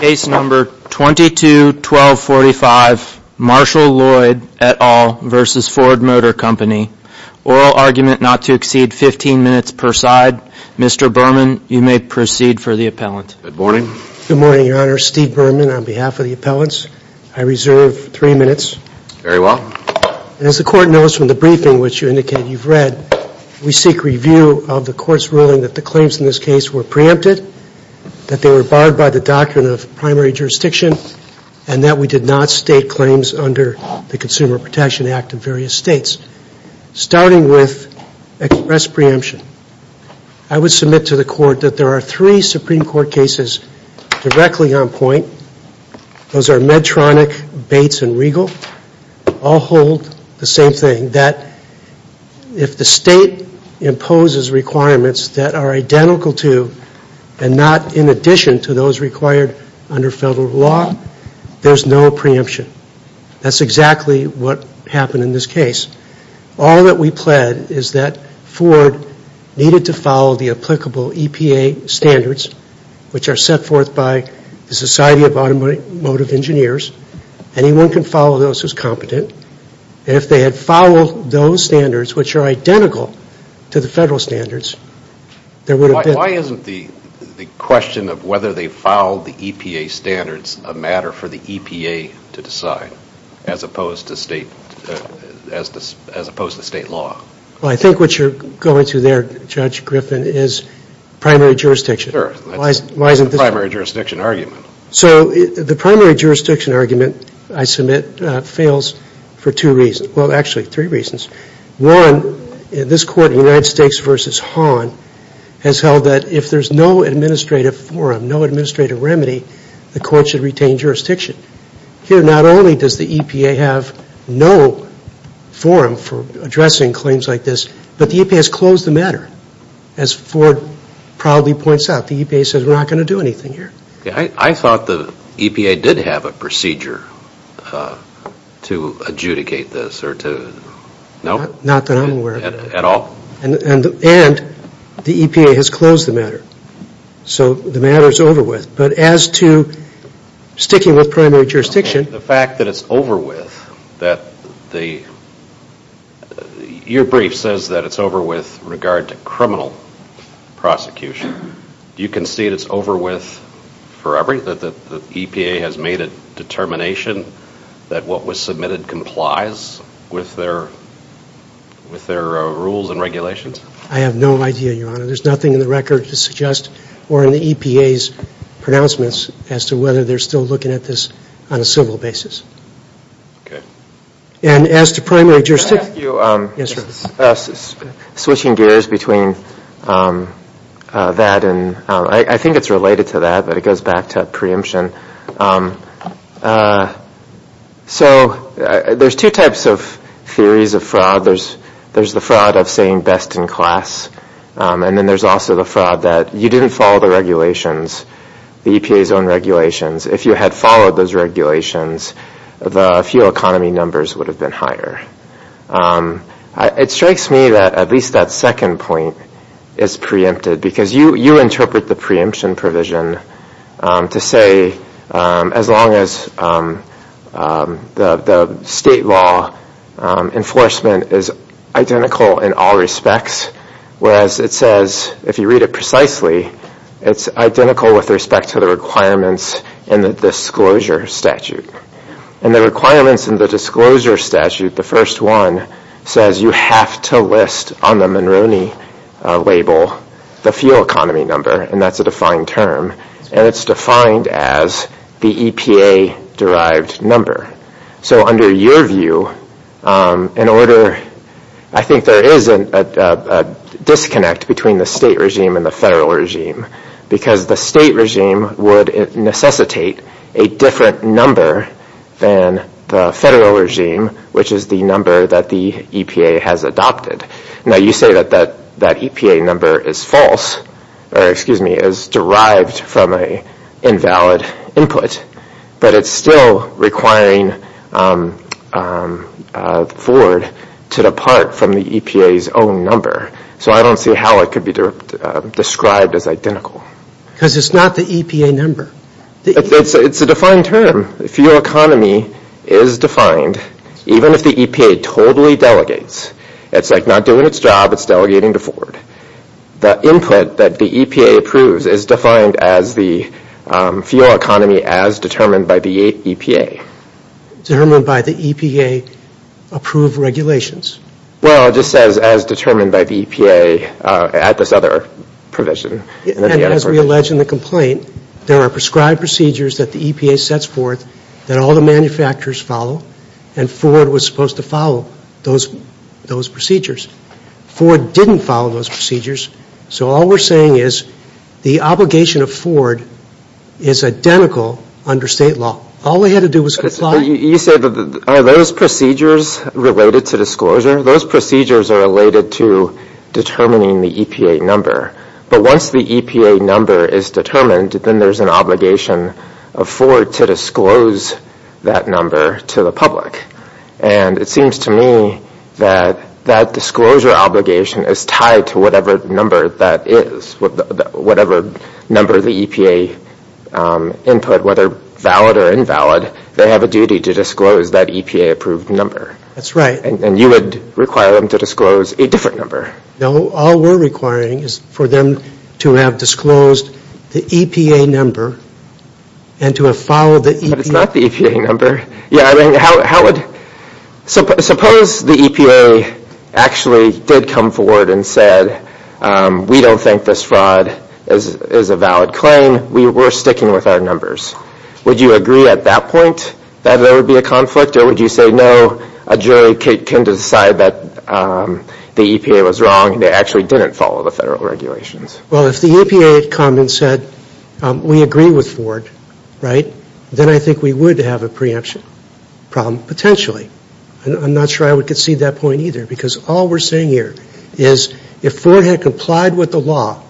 Case number 221245 Marshall Lloyd et al. v. Ford Motor Company. Oral argument not to exceed 15 minutes per side. Mr. Berman, you may proceed for the appellant. Good morning. Good morning, Your Honor. Steve Berman on behalf of the appellants. I reserve three minutes. Very well. As the court knows from the briefing which you indicated you've read, we seek review of the court's ruling that the claims in this case were preempted, that they were barred by the doctrine of primary jurisdiction, and that we did not state claims under the Consumer Protection Act in various states. Starting with express preemption, I would submit to the court that there are three Supreme Court cases directly on point. All hold the same thing, that if the state imposes requirements that are identical to and not in addition to those required under federal law, there's no preemption. That's exactly what happened in this case. All that we pled is that Ford needed to follow the applicable EPA standards which are set forth by the Society of Automotive Engineers. Anyone can follow those who's competent. If they had followed those standards which are identical to the federal standards, there would have been. Why isn't the question of whether they followed the EPA standards a matter for the EPA to decide, as opposed to state law? Well, I think what you're going to there, Judge Griffin, is primary jurisdiction. Sure. That's the primary jurisdiction argument. So the primary jurisdiction argument, I submit, fails for two reasons. Well, actually, three reasons. One, this court in United States v. Hahn has held that if there's no administrative forum, no administrative remedy, the court should retain jurisdiction. Here, not only does the EPA have no forum for addressing claims like this, but the EPA has closed the matter. As Ford proudly points out, the EPA says we're not going to do anything here. I thought the EPA did have a procedure to adjudicate this or to, no? Not that I'm aware of. At all? And the EPA has closed the matter. So the matter is over with. But as to sticking with primary jurisdiction. The fact that it's over with, that the, your brief says that it's over with regard to criminal prosecution. Do you concede it's over with forever, that the EPA has made a determination that what was submitted complies with their rules and regulations? I have no idea, Your Honor. There's nothing in the record to suggest or in the EPA's pronouncements as to whether they're still looking at this on a civil basis. Okay. And as to primary jurisdiction. Can I ask you, switching gears between that and, I think it's related to that, but it goes back to preemption. So there's two types of theories of fraud. There's the fraud of saying best in class. And then there's also the fraud that you didn't follow the regulations, the EPA's own regulations. If you had followed those regulations, the fuel economy numbers would have been higher. It strikes me that at least that second point is preempted because you interpret the preemption provision to say as long as the state law enforcement is identical in all respects, whereas it says, if you read it precisely, it's identical with respect to the requirements in the disclosure statute. And the requirements in the disclosure statute, the first one, says you have to list on the Monroney label the fuel economy number, and that's a defined term. And it's defined as the EPA-derived number. So under your view, I think there is a disconnect between the state regime and the federal regime because the state regime would necessitate a different number than the federal regime, which is the number that the EPA has adopted. Now, you say that that EPA number is derived from an invalid input, but it's still requiring Ford to depart from the EPA's own number. So I don't see how it could be described as identical. Because it's not the EPA number. It's a defined term. The fuel economy is defined, even if the EPA totally delegates. It's like not doing its job, it's delegating to Ford. The input that the EPA approves is defined as the fuel economy as determined by the EPA. Determined by the EPA-approved regulations. Well, it just says as determined by the EPA at this other provision. And as we allege in the complaint, there are prescribed procedures that the EPA sets forth that all the manufacturers follow, and Ford was supposed to follow those procedures. Ford didn't follow those procedures. So all we're saying is the obligation of Ford is identical under state law. All they had to do was comply. You say, are those procedures related to disclosure? Those procedures are related to determining the EPA number. But once the EPA number is determined, then there's an obligation of Ford to disclose that number to the public. And it seems to me that that disclosure obligation is tied to whatever number that is. Whatever number the EPA input, whether valid or invalid, they have a duty to disclose that EPA-approved number. That's right. And you would require them to disclose a different number. No, all we're requiring is for them to have disclosed the EPA number and to have followed the EPA number. But it's not the EPA number. Yeah, I mean, suppose the EPA actually did come forward and said, we don't think this fraud is a valid claim. We're sticking with our numbers. Would you agree at that point that there would be a conflict? Or would you say, no, a jury can decide that the EPA was wrong and they actually didn't follow the federal regulations? Well, if the EPA had come and said, we agree with Ford, right, then I think we would have a preemption problem, potentially. I'm not sure I would concede that point either, because all we're saying here is if Ford had complied with the law,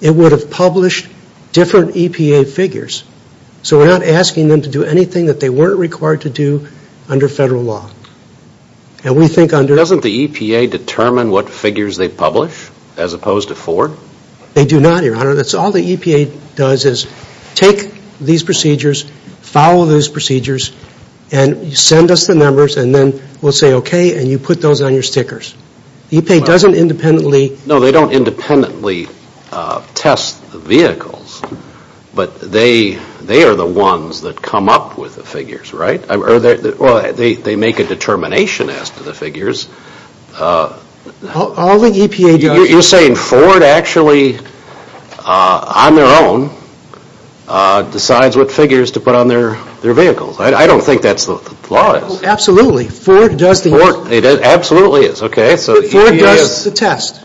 it would have published different EPA figures. So we're not asking them to do anything that they weren't required to do under federal law. And we think under the... Doesn't the EPA determine what figures they publish as opposed to Ford? They do not, Your Honor. That's all the EPA does is take these procedures, follow those procedures, and send us the numbers, and then we'll say, okay, and you put those on your stickers. The EPA doesn't independently... No, they don't independently test the vehicles, but they are the ones that come up with the figures, right? Or they make a determination as to the figures. All the EPA does... You're saying Ford actually, on their own, decides what figures to put on their vehicles. I don't think that's what the law is. Absolutely. Ford does the... Ford absolutely is, okay. Ford does the test.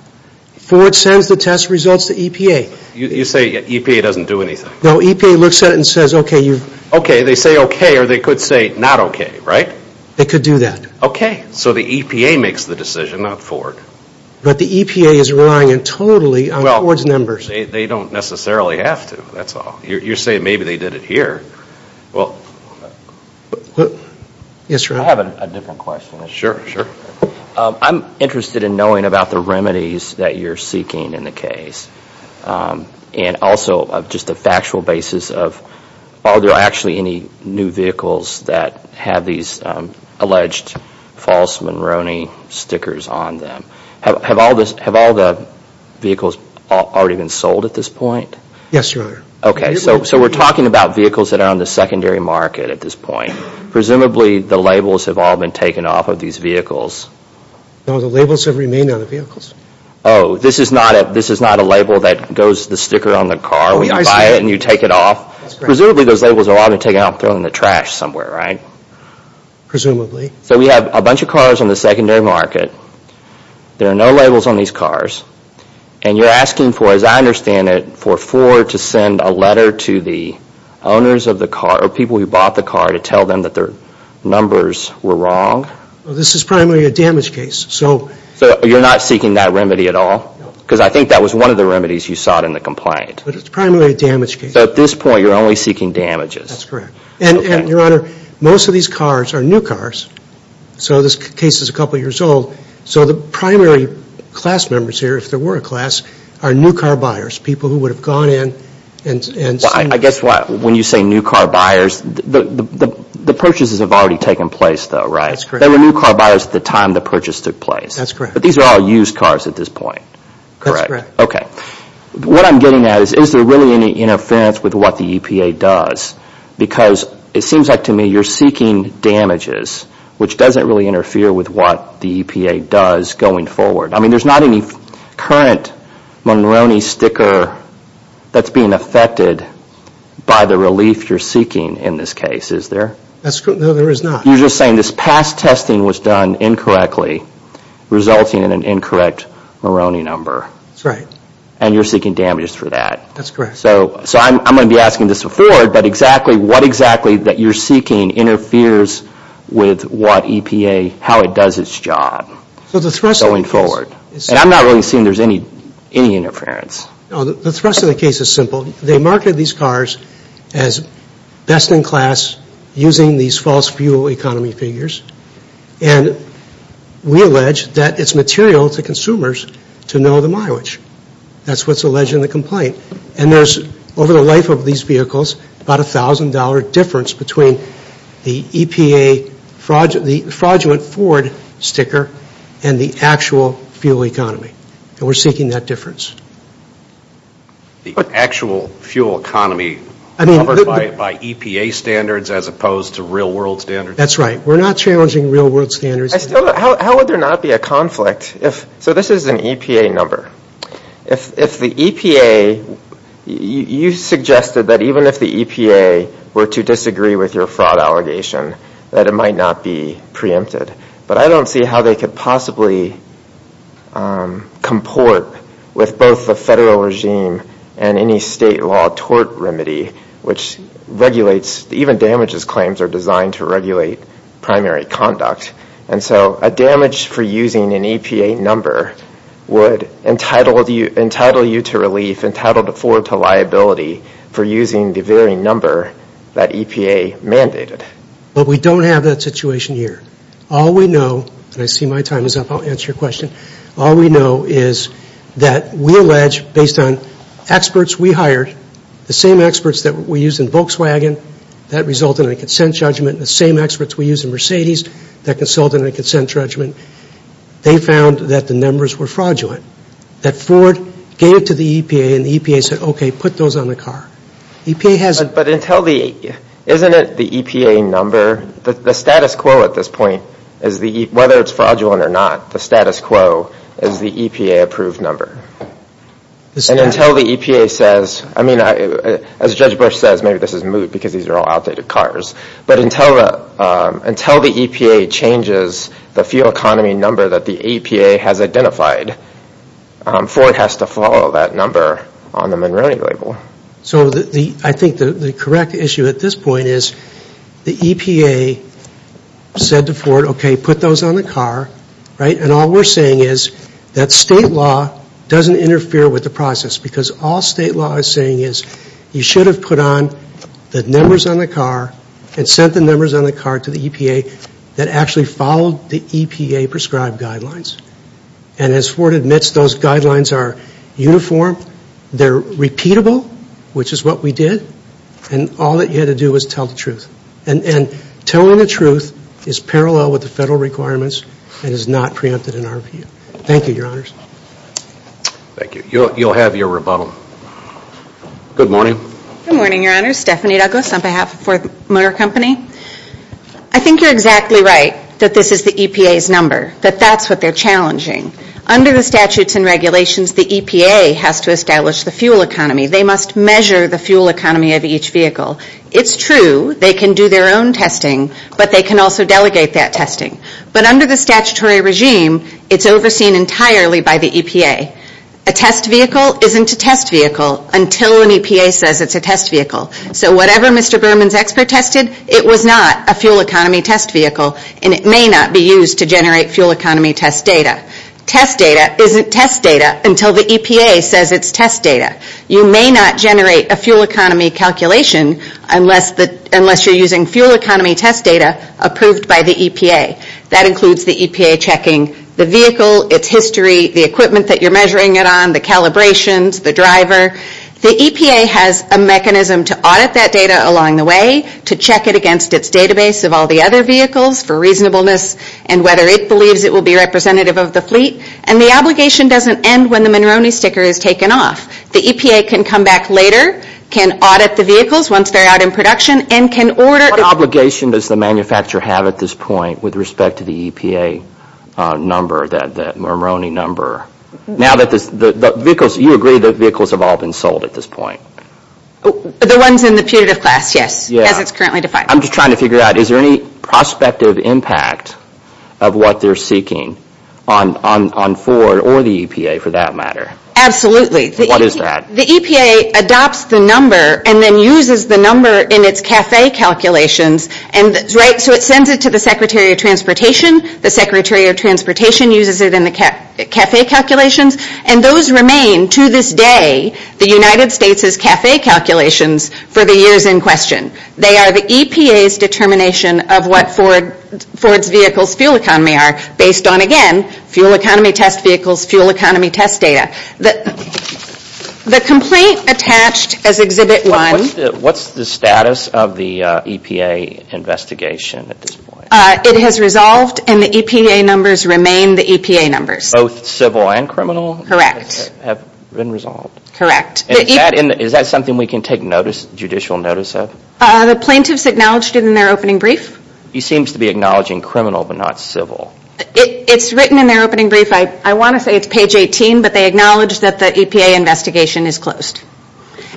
Ford sends the test results to EPA. You say EPA doesn't do anything. No, EPA looks at it and says, okay, you've... Okay, they say okay, or they could say not okay, right? They could do that. Okay, so the EPA makes the decision, not Ford. But the EPA is relying totally on Ford's numbers. Well, they don't necessarily have to, that's all. You're saying maybe they did it here. Yes, sir. I have a different question. Sure, sure. I'm interested in knowing about the remedies that you're seeking in the case, and also just the factual basis of are there actually any new vehicles that have these alleged false Monroney stickers on them? Have all the vehicles already been sold at this point? Yes, Your Honor. Okay, so we're talking about vehicles that are on the secondary market at this point. Presumably the labels have all been taken off of these vehicles. No, the labels have remained on the vehicles. Oh, this is not a label that goes to the sticker on the car when you buy it and you take it off? Presumably those labels have all been taken off and thrown in the trash somewhere, right? Presumably. So we have a bunch of cars on the secondary market. There are no labels on these cars. And you're asking for, as I understand it, for Ford to send a letter to the owners of the car, or people who bought the car, to tell them that their numbers were wrong? This is primarily a damage case. So you're not seeking that remedy at all? No. Because I think that was one of the remedies you sought in the complaint. But it's primarily a damage case. So at this point you're only seeking damages? That's correct. And, Your Honor, most of these cars are new cars. So this case is a couple of years old. So the primary class members here, if there were a class, are new car buyers, people who would have gone in and seen them. I guess when you say new car buyers, the purchases have already taken place though, right? That's correct. They were new car buyers at the time the purchase took place. That's correct. But these are all used cars at this point, correct? That's correct. Okay. What I'm getting at is, is there really any interference with what the EPA does? Because it seems like to me you're seeking damages, which doesn't really interfere with what the EPA does going forward. I mean, there's not any current Monroney sticker that's being affected by the relief you're seeking in this case, is there? No, there is not. You're just saying this past testing was done incorrectly, resulting in an incorrect Monroney number. That's right. And you're seeking damages for that. That's correct. So I'm going to be asking this of Ford, but exactly what exactly that you're seeking interferes with what EPA, how it does its job going forward? And I'm not really seeing there's any interference. No, the thrust of the case is simple. They market these cars as best in class using these false fuel economy figures, and we allege that it's material to consumers to know the mileage. That's what's alleged in the complaint. And there's, over the life of these vehicles, about $1,000 difference between the EPA fraudulent Ford sticker and the actual fuel economy. And we're seeking that difference. The actual fuel economy covered by EPA standards as opposed to real world standards? That's right. We're not challenging real world standards. How would there not be a conflict? So this is an EPA number. If the EPA, you suggested that even if the EPA were to disagree with your fraud allegation, that it might not be preempted. But I don't see how they could possibly comport with both the federal regime and any state law tort remedy which regulates, even damages claims are designed to regulate primary conduct. And so a damage for using an EPA number would entitle you to relief, entitle Ford to liability for using the very number that EPA mandated. But we don't have that situation here. All we know, and I see my time is up. I'll answer your question. All we know is that we allege, based on experts we hired, the same experts that we used in Volkswagen, that resulted in a consent judgment, and the same experts we used in Mercedes, that resulted in a consent judgment. They found that the numbers were fraudulent. That Ford gave it to the EPA and the EPA said, okay, put those on the car. EPA hasn't. But isn't it the EPA number, the status quo at this point, whether it's fraudulent or not, the status quo is the EPA approved number. And until the EPA says, I mean, as Judge Bush says, maybe this is moot because these are all outdated cars, but until the EPA changes the fuel economy number that the EPA has identified, Ford has to follow that number on the Monroney label. So I think the correct issue at this point is the EPA said to Ford, okay, put those on the car. And all we're saying is that state law doesn't interfere with the process because all state law is saying is you should have put on the numbers on the car and sent the numbers on the car to the EPA that actually followed the EPA prescribed guidelines. And as Ford admits, those guidelines are uniform. They're repeatable, which is what we did. And all that you had to do was tell the truth. And telling the truth is parallel with the federal requirements and is not preempted in our view. Thank you, Your Honors. Thank you. You'll have your rebuttal. Good morning. Good morning, Your Honors. Stephanie Douglas on behalf of Ford Motor Company. I think you're exactly right that this is the EPA's number, that that's what they're challenging. Under the statutes and regulations, the EPA has to establish the fuel economy. They must measure the fuel economy of each vehicle. It's true they can do their own testing, but they can also delegate that testing. But under the statutory regime, it's overseen entirely by the EPA. A test vehicle isn't a test vehicle until an EPA says it's a test vehicle. So whatever Mr. Berman's expert tested, it was not a fuel economy test vehicle and it may not be used to generate fuel economy test data. Test data isn't test data until the EPA says it's test data. You may not generate a fuel economy calculation unless you're using fuel economy test data approved by the EPA. That includes the EPA checking the vehicle, its history, the equipment that you're measuring it on, the calibrations, the driver. The EPA has a mechanism to audit that data along the way, to check it against its database of all the other vehicles for reasonableness and whether it believes it will be representative of the fleet. And the obligation doesn't end when the Monroney sticker is taken off. The EPA can come back later, can audit the vehicles once they're out in production, and can order. What obligation does the manufacturer have at this point with respect to the EPA number, the Monroney number? Now that the vehicles, you agree that vehicles have all been sold at this point. The ones in the putative class, yes, as it's currently defined. I'm just trying to figure out, is there any prospective impact of what they're seeking on Ford or the EPA for that matter? Absolutely. What is that? The EPA adopts the number and then uses the number in its CAFE calculations. So it sends it to the Secretary of Transportation. The Secretary of Transportation uses it in the CAFE calculations. And those remain, to this day, the United States' CAFE calculations for the years in question. They are the EPA's determination of what Ford's vehicles fuel economy are, based on, again, fuel economy test vehicles, fuel economy test data. The complaint attached as Exhibit 1. What's the status of the EPA investigation at this point? It has resolved and the EPA numbers remain the EPA numbers. Both civil and criminal? Correct. Have been resolved? Correct. Is that something we can take judicial notice of? The plaintiffs acknowledged it in their opening brief. He seems to be acknowledging criminal but not civil. It's written in their opening brief. I want to say it's page 18, but they acknowledge that the EPA investigation is closed.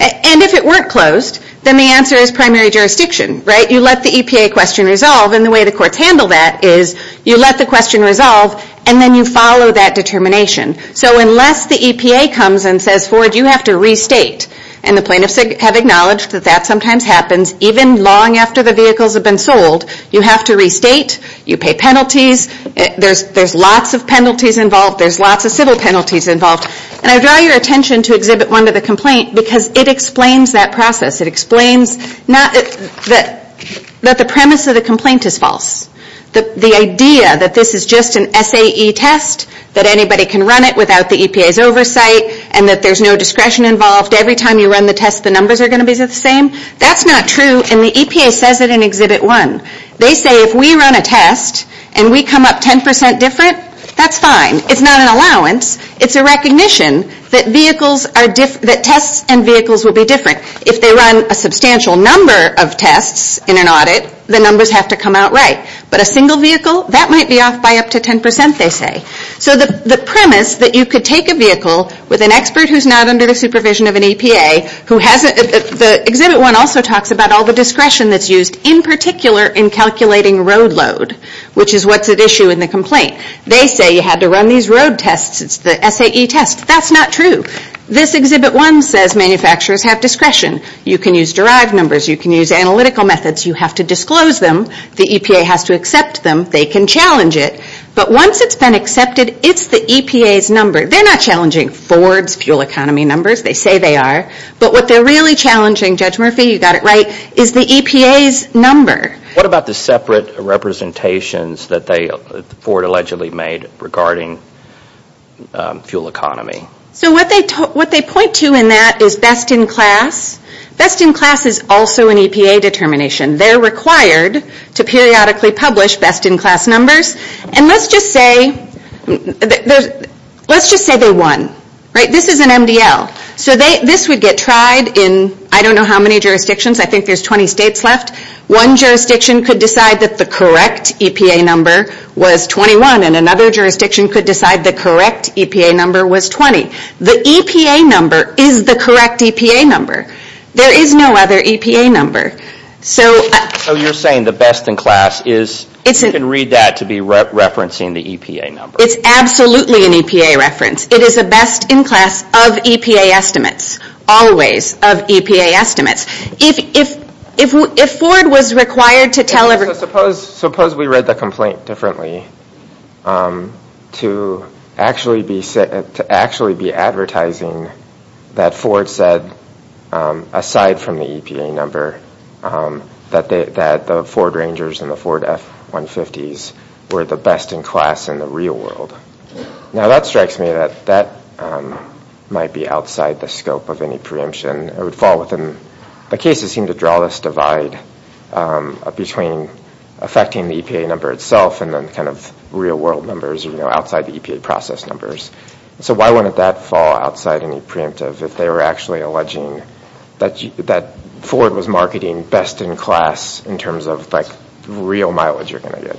And if it weren't closed, then the answer is primary jurisdiction, right? You let the EPA question resolve, and the way the courts handle that is you let the question resolve, and then you follow that determination. So unless the EPA comes and says, Ford, you have to restate, and the plaintiffs have acknowledged that that sometimes happens even long after the vehicles have been sold, you have to restate, you pay penalties. There's lots of penalties involved. There's lots of civil penalties involved. And I draw your attention to Exhibit 1 to the complaint because it explains that process. It explains that the premise of the complaint is false, the idea that this is just an SAE test, that anybody can run it without the EPA's oversight, and that there's no discretion involved. Every time you run the test, the numbers are going to be the same. That's not true, and the EPA says it in Exhibit 1. They say if we run a test and we come up 10% different, that's fine. It's not an allowance. It's a recognition that tests and vehicles will be different. If they run a substantial number of tests in an audit, the numbers have to come out right. But a single vehicle, that might be off by up to 10%, they say. So the premise that you could take a vehicle with an expert who's not under the supervision of an EPA, Exhibit 1 also talks about all the discretion that's used in particular in calculating road load, which is what's at issue in the complaint. They say you had to run these road tests. It's the SAE test. That's not true. This Exhibit 1 says manufacturers have discretion. You can use derived numbers. You can use analytical methods. You have to disclose them. The EPA has to accept them. They can challenge it. But once it's been accepted, it's the EPA's number. They're not challenging Ford's fuel economy numbers. They say they are. But what they're really challenging, Judge Murphy, you got it right, is the EPA's number. What about the separate representations that Ford allegedly made regarding fuel economy? So what they point to in that is best in class. Best in class is also an EPA determination. They're required to periodically publish best in class numbers. And let's just say they won. This is an MDL. So this would get tried in I don't know how many jurisdictions. I think there's 20 states left. One jurisdiction could decide that the correct EPA number was 21, and another jurisdiction could decide the correct EPA number was 20. The EPA number is the correct EPA number. There is no other EPA number. So you're saying the best in class is you can read that to be referencing the EPA number. It's absolutely an EPA reference. It is a best in class of EPA estimates, always of EPA estimates. If Ford was required to tell everybody So suppose we read the complaint differently to actually be advertising that Ford said, aside from the EPA number, that the Ford Rangers and the Ford F-150s were the best in class in the real world. Now that strikes me that that might be outside the scope of any preemption. The cases seem to draw this divide between affecting the EPA number itself and then kind of real world numbers outside the EPA process numbers. So why wouldn't that fall outside any preemptive if they were actually alleging that Ford was marketing best in class in terms of like real mileage you're going to get?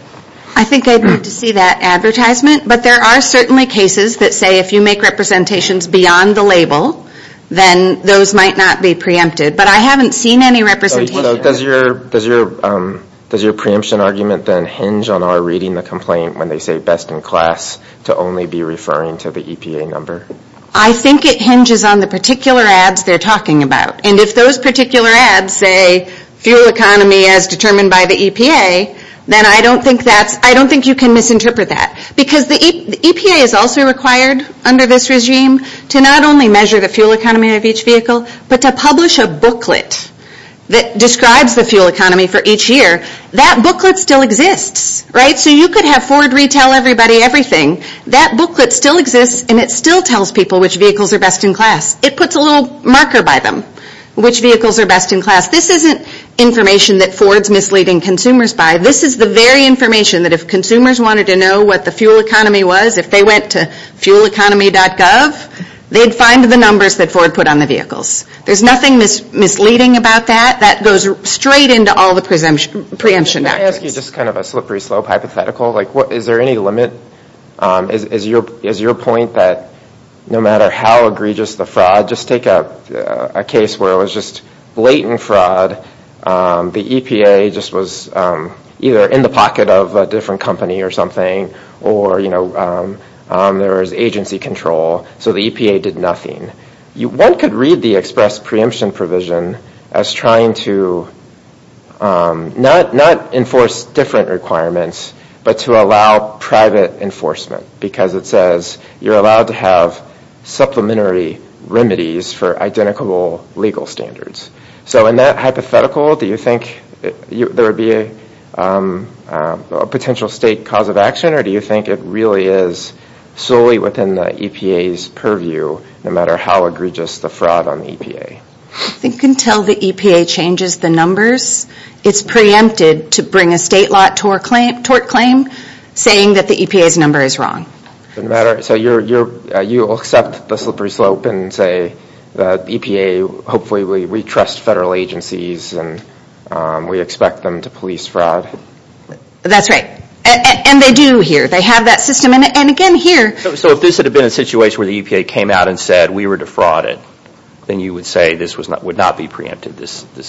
I think I'd need to see that advertisement. But there are certainly cases that say if you make representations beyond the label, then those might not be preempted. But I haven't seen any representation. Does your preemption argument then hinge on our reading the complaint when they say best in class to only be referring to the EPA number? I think it hinges on the particular ads they're talking about. And if those particular ads say fuel economy as determined by the EPA, then I don't think you can misinterpret that. Because the EPA is also required under this regime to not only measure the fuel economy of each vehicle, but to publish a booklet that describes the fuel economy for each year. That booklet still exists, right? So you could have Ford retell everybody everything. That booklet still exists and it still tells people which vehicles are best in class. It puts a little marker by them, which vehicles are best in class. This isn't information that Ford's misleading consumers by. This is the very information that if consumers wanted to know what the fuel economy was, if they went to fueleconomy.gov, they'd find the numbers that Ford put on the vehicles. There's nothing misleading about that. That goes straight into all the preemption documents. Can I ask you just kind of a slippery slope hypothetical? Is there any limit? Is your point that no matter how egregious the fraud, just take a case where it was just blatant fraud, the EPA just was either in the pocket of a different company or something, or there was agency control, so the EPA did nothing. One could read the express preemption provision as trying to not enforce different requirements, but to allow private enforcement. Because it says you're allowed to have supplementary remedies for identical legal standards. So in that hypothetical, do you think there would be a potential state cause of action, or do you think it really is solely within the EPA's purview, no matter how egregious the fraud on the EPA? I think until the EPA changes the numbers, it's preempted to bring a state law tort claim saying that the EPA's number is wrong. So you'll accept the slippery slope and say the EPA, hopefully we trust federal agencies and we expect them to police fraud? That's right. And they do here. They have that system. And again, here. So if this had been a situation where the EPA came out and said we were defrauded, then you would say this would not be preempted?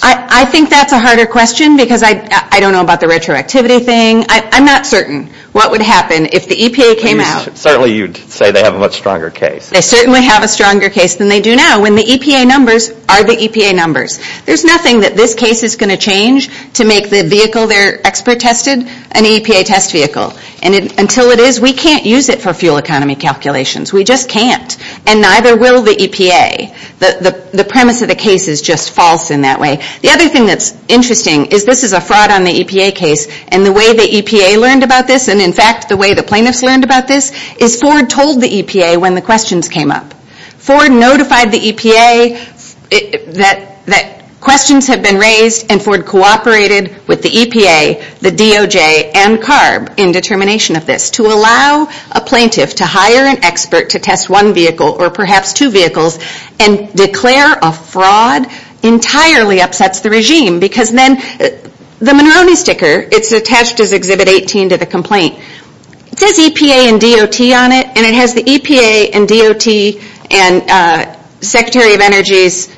I think that's a harder question because I don't know about the retroactivity thing. I'm not certain what would happen if the EPA came out. Certainly you'd say they have a much stronger case. They certainly have a stronger case than they do now when the EPA numbers are the EPA numbers. There's nothing that this case is going to change to make the vehicle they're expert tested an EPA test vehicle. And until it is, we can't use it for fuel economy calculations. We just can't. And neither will the EPA. The premise of the case is just false in that way. The other thing that's interesting is this is a fraud on the EPA case. And the way the EPA learned about this, and in fact the way the plaintiffs learned about this, is Ford told the EPA when the questions came up. Ford notified the EPA that questions had been raised, and Ford cooperated with the EPA, the DOJ, and CARB in determination of this to allow a plaintiff to hire an expert to test one vehicle or perhaps two vehicles and declare a fraud entirely upsets the regime. Because then the Monroney sticker, it's attached as Exhibit 18 to the complaint, it says EPA and DOT on it, and it has the EPA and DOT and Secretary of Energy's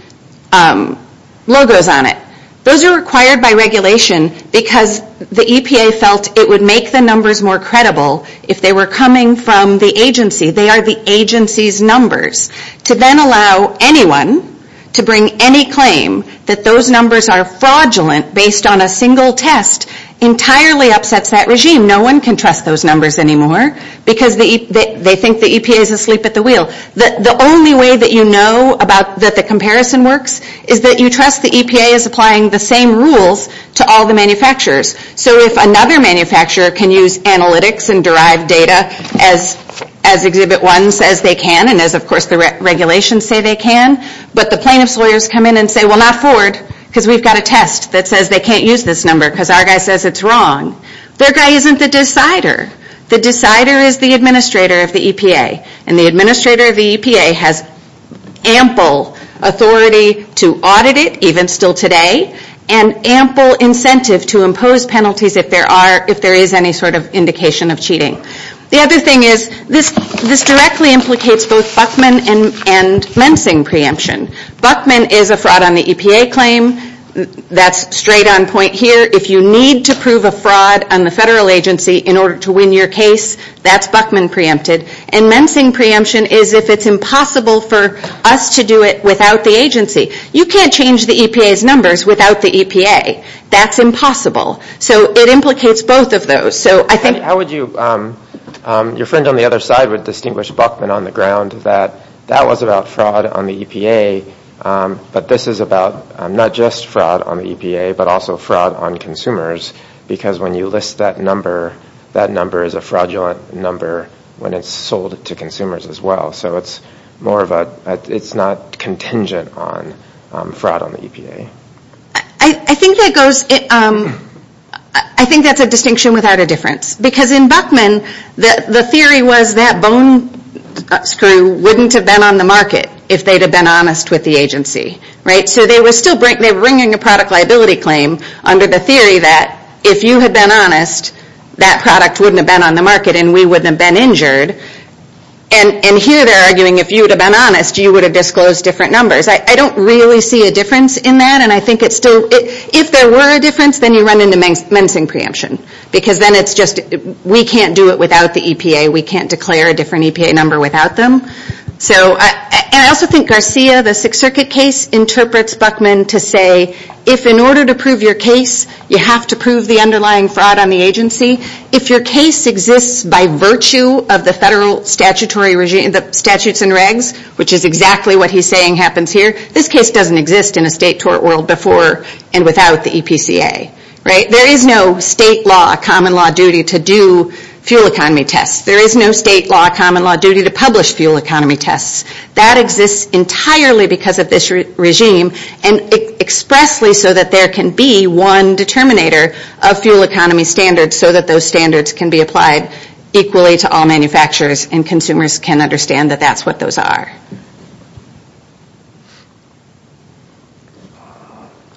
logos on it. Those are required by regulation because the EPA felt it would make the numbers more credible if they were coming from the agency. They are the agency's numbers. To then allow anyone to bring any claim that those numbers are fraudulent based on a single test entirely upsets that regime. No one can trust those numbers anymore because they think the EPA is asleep at the wheel. The only way that you know that the comparison works is that you trust the EPA is applying the same rules to all the manufacturers. So if another manufacturer can use analytics and derive data as Exhibit 1 says they can, and as of course the regulations say they can, but the plaintiff's lawyers come in and say, well not Ford because we've got a test that says they can't use this number because our guy says it's wrong. Their guy isn't the decider. The decider is the administrator of the EPA. And the administrator of the EPA has ample authority to audit it even still today and ample incentive to impose penalties if there is any sort of indication of cheating. The other thing is this directly implicates both Buckman and Mensing preemption. Buckman is a fraud on the EPA claim. That's straight on point here. If you need to prove a fraud on the federal agency in order to win your case, that's Buckman preempted. And Mensing preemption is if it's impossible for us to do it without the agency. You can't change the EPA's numbers without the EPA. That's impossible. So it implicates both of those. How would you, your friend on the other side would distinguish Buckman on the ground that that was about fraud on the EPA, but this is about not just fraud on the EPA but also fraud on consumers because when you list that number, that number is a fraudulent number when it's sold to consumers as well. So it's more of a, it's not contingent on fraud on the EPA. I think that goes, I think that's a distinction without a difference. Because in Buckman, the theory was that bone screw wouldn't have been on the market if they'd have been honest with the agency. So they were still bringing a product liability claim under the theory that if you had been honest, that product wouldn't have been on the market and we wouldn't have been injured. And here they're arguing if you would have been honest, you would have disclosed different numbers. I don't really see a difference in that. And I think it's still, if there were a difference, then you run into Mensing preemption. Because then it's just we can't do it without the EPA. We can't declare a different EPA number without them. And I also think Garcia, the Sixth Circuit case, interprets Buckman to say if in order to prove your case, you have to prove the underlying fraud on the agency, if your case exists by virtue of the federal statutory regime, the statutes and regs, which is exactly what he's saying happens here, this case doesn't exist in a state tort world before and without the EPCA. There is no state law, common law duty to do fuel economy tests. There is no state law, common law duty to publish fuel economy tests. That exists entirely because of this regime, and expressly so that there can be one determinator of fuel economy standards so that those standards can be applied equally to all manufacturers and consumers can understand that that's what those are.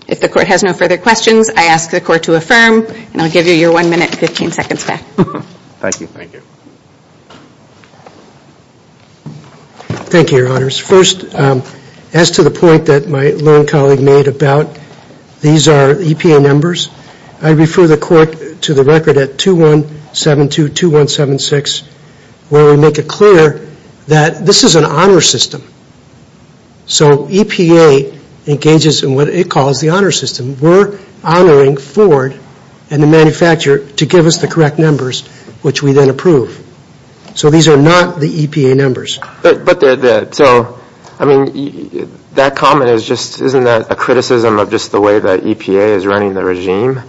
If the court has no further questions, I ask the court to affirm. And I'll give you your one minute and 15 seconds back. Thank you. Thank you, Your Honors. First, as to the point that my lone colleague made about these are EPA numbers, I refer the court to the record at 2172-2176, where we make it clear that this is an honor system. So EPA engages in what it calls the honor system. We're honoring Ford and the manufacturer to give us the correct numbers, which we then approve. So these are not the EPA numbers. But so, I mean, that comment is just, isn't that a criticism of just the way that EPA is running the regime?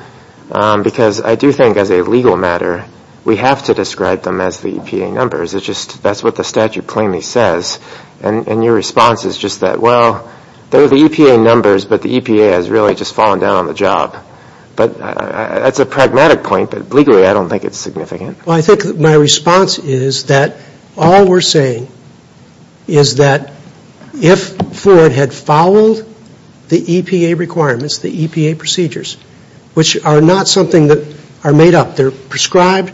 Because I do think as a legal matter, we have to describe them as the EPA numbers. It's just that's what the statute plainly says. And your response is just that, well, they're the EPA numbers, but the EPA has really just fallen down on the job. But that's a pragmatic point. But legally, I don't think it's significant. Well, I think my response is that all we're saying is that if Ford had followed the EPA requirements, the EPA procedures, which are not something that are made up. They're prescribed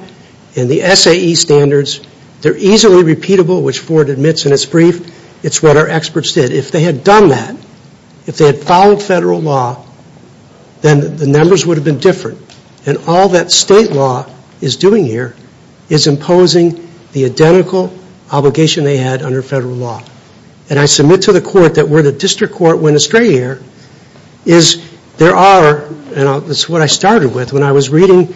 in the SAE standards. They're easily repeatable, which Ford admits in his brief. It's what our experts did. But if they had done that, if they had followed federal law, then the numbers would have been different. And all that state law is doing here is imposing the identical obligation they had under federal law. And I submit to the court that where the district court went astray here is there are, and this is what I started with when I was reading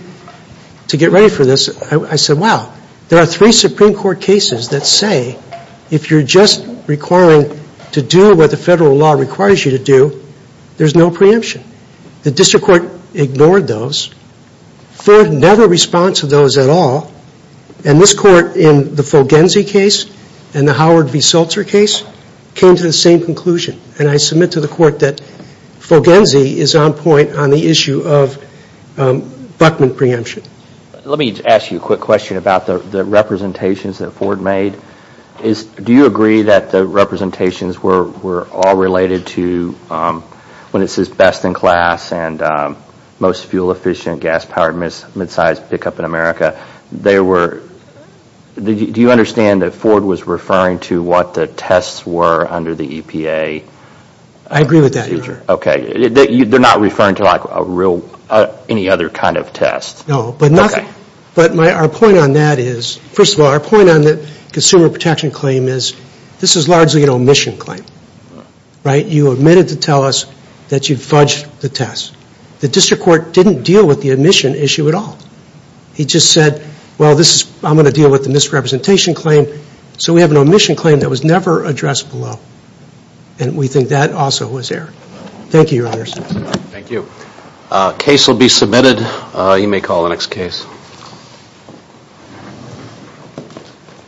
to get ready for this. I said, wow, there are three Supreme Court cases that say if you're just requiring to do what the federal law requires you to do, there's no preemption. The district court ignored those. Ford never responds to those at all. And this court in the Fulgenzi case and the Howard v. Sulzer case came to the same conclusion. And I submit to the court that Fulgenzi is on point on the issue of Buckman preemption. Let me ask you a quick question about the representations that Ford made. Do you agree that the representations were all related to when it says best in class and most fuel efficient gas powered midsize pickup in America? Do you understand that Ford was referring to what the tests were under the EPA? I agree with that, Your Honor. Okay. They're not referring to like a real, any other kind of test? No, but nothing. Okay. But our point on that is, first of all, our point on the consumer protection claim is this is largely an omission claim. Right? You admitted to tell us that you fudged the test. The district court didn't deal with the omission issue at all. He just said, well, I'm going to deal with the misrepresentation claim. So we have an omission claim that was never addressed below. And we think that also was error. Thank you, Your Honors. Thank you. Case will be submitted. You may call the next case.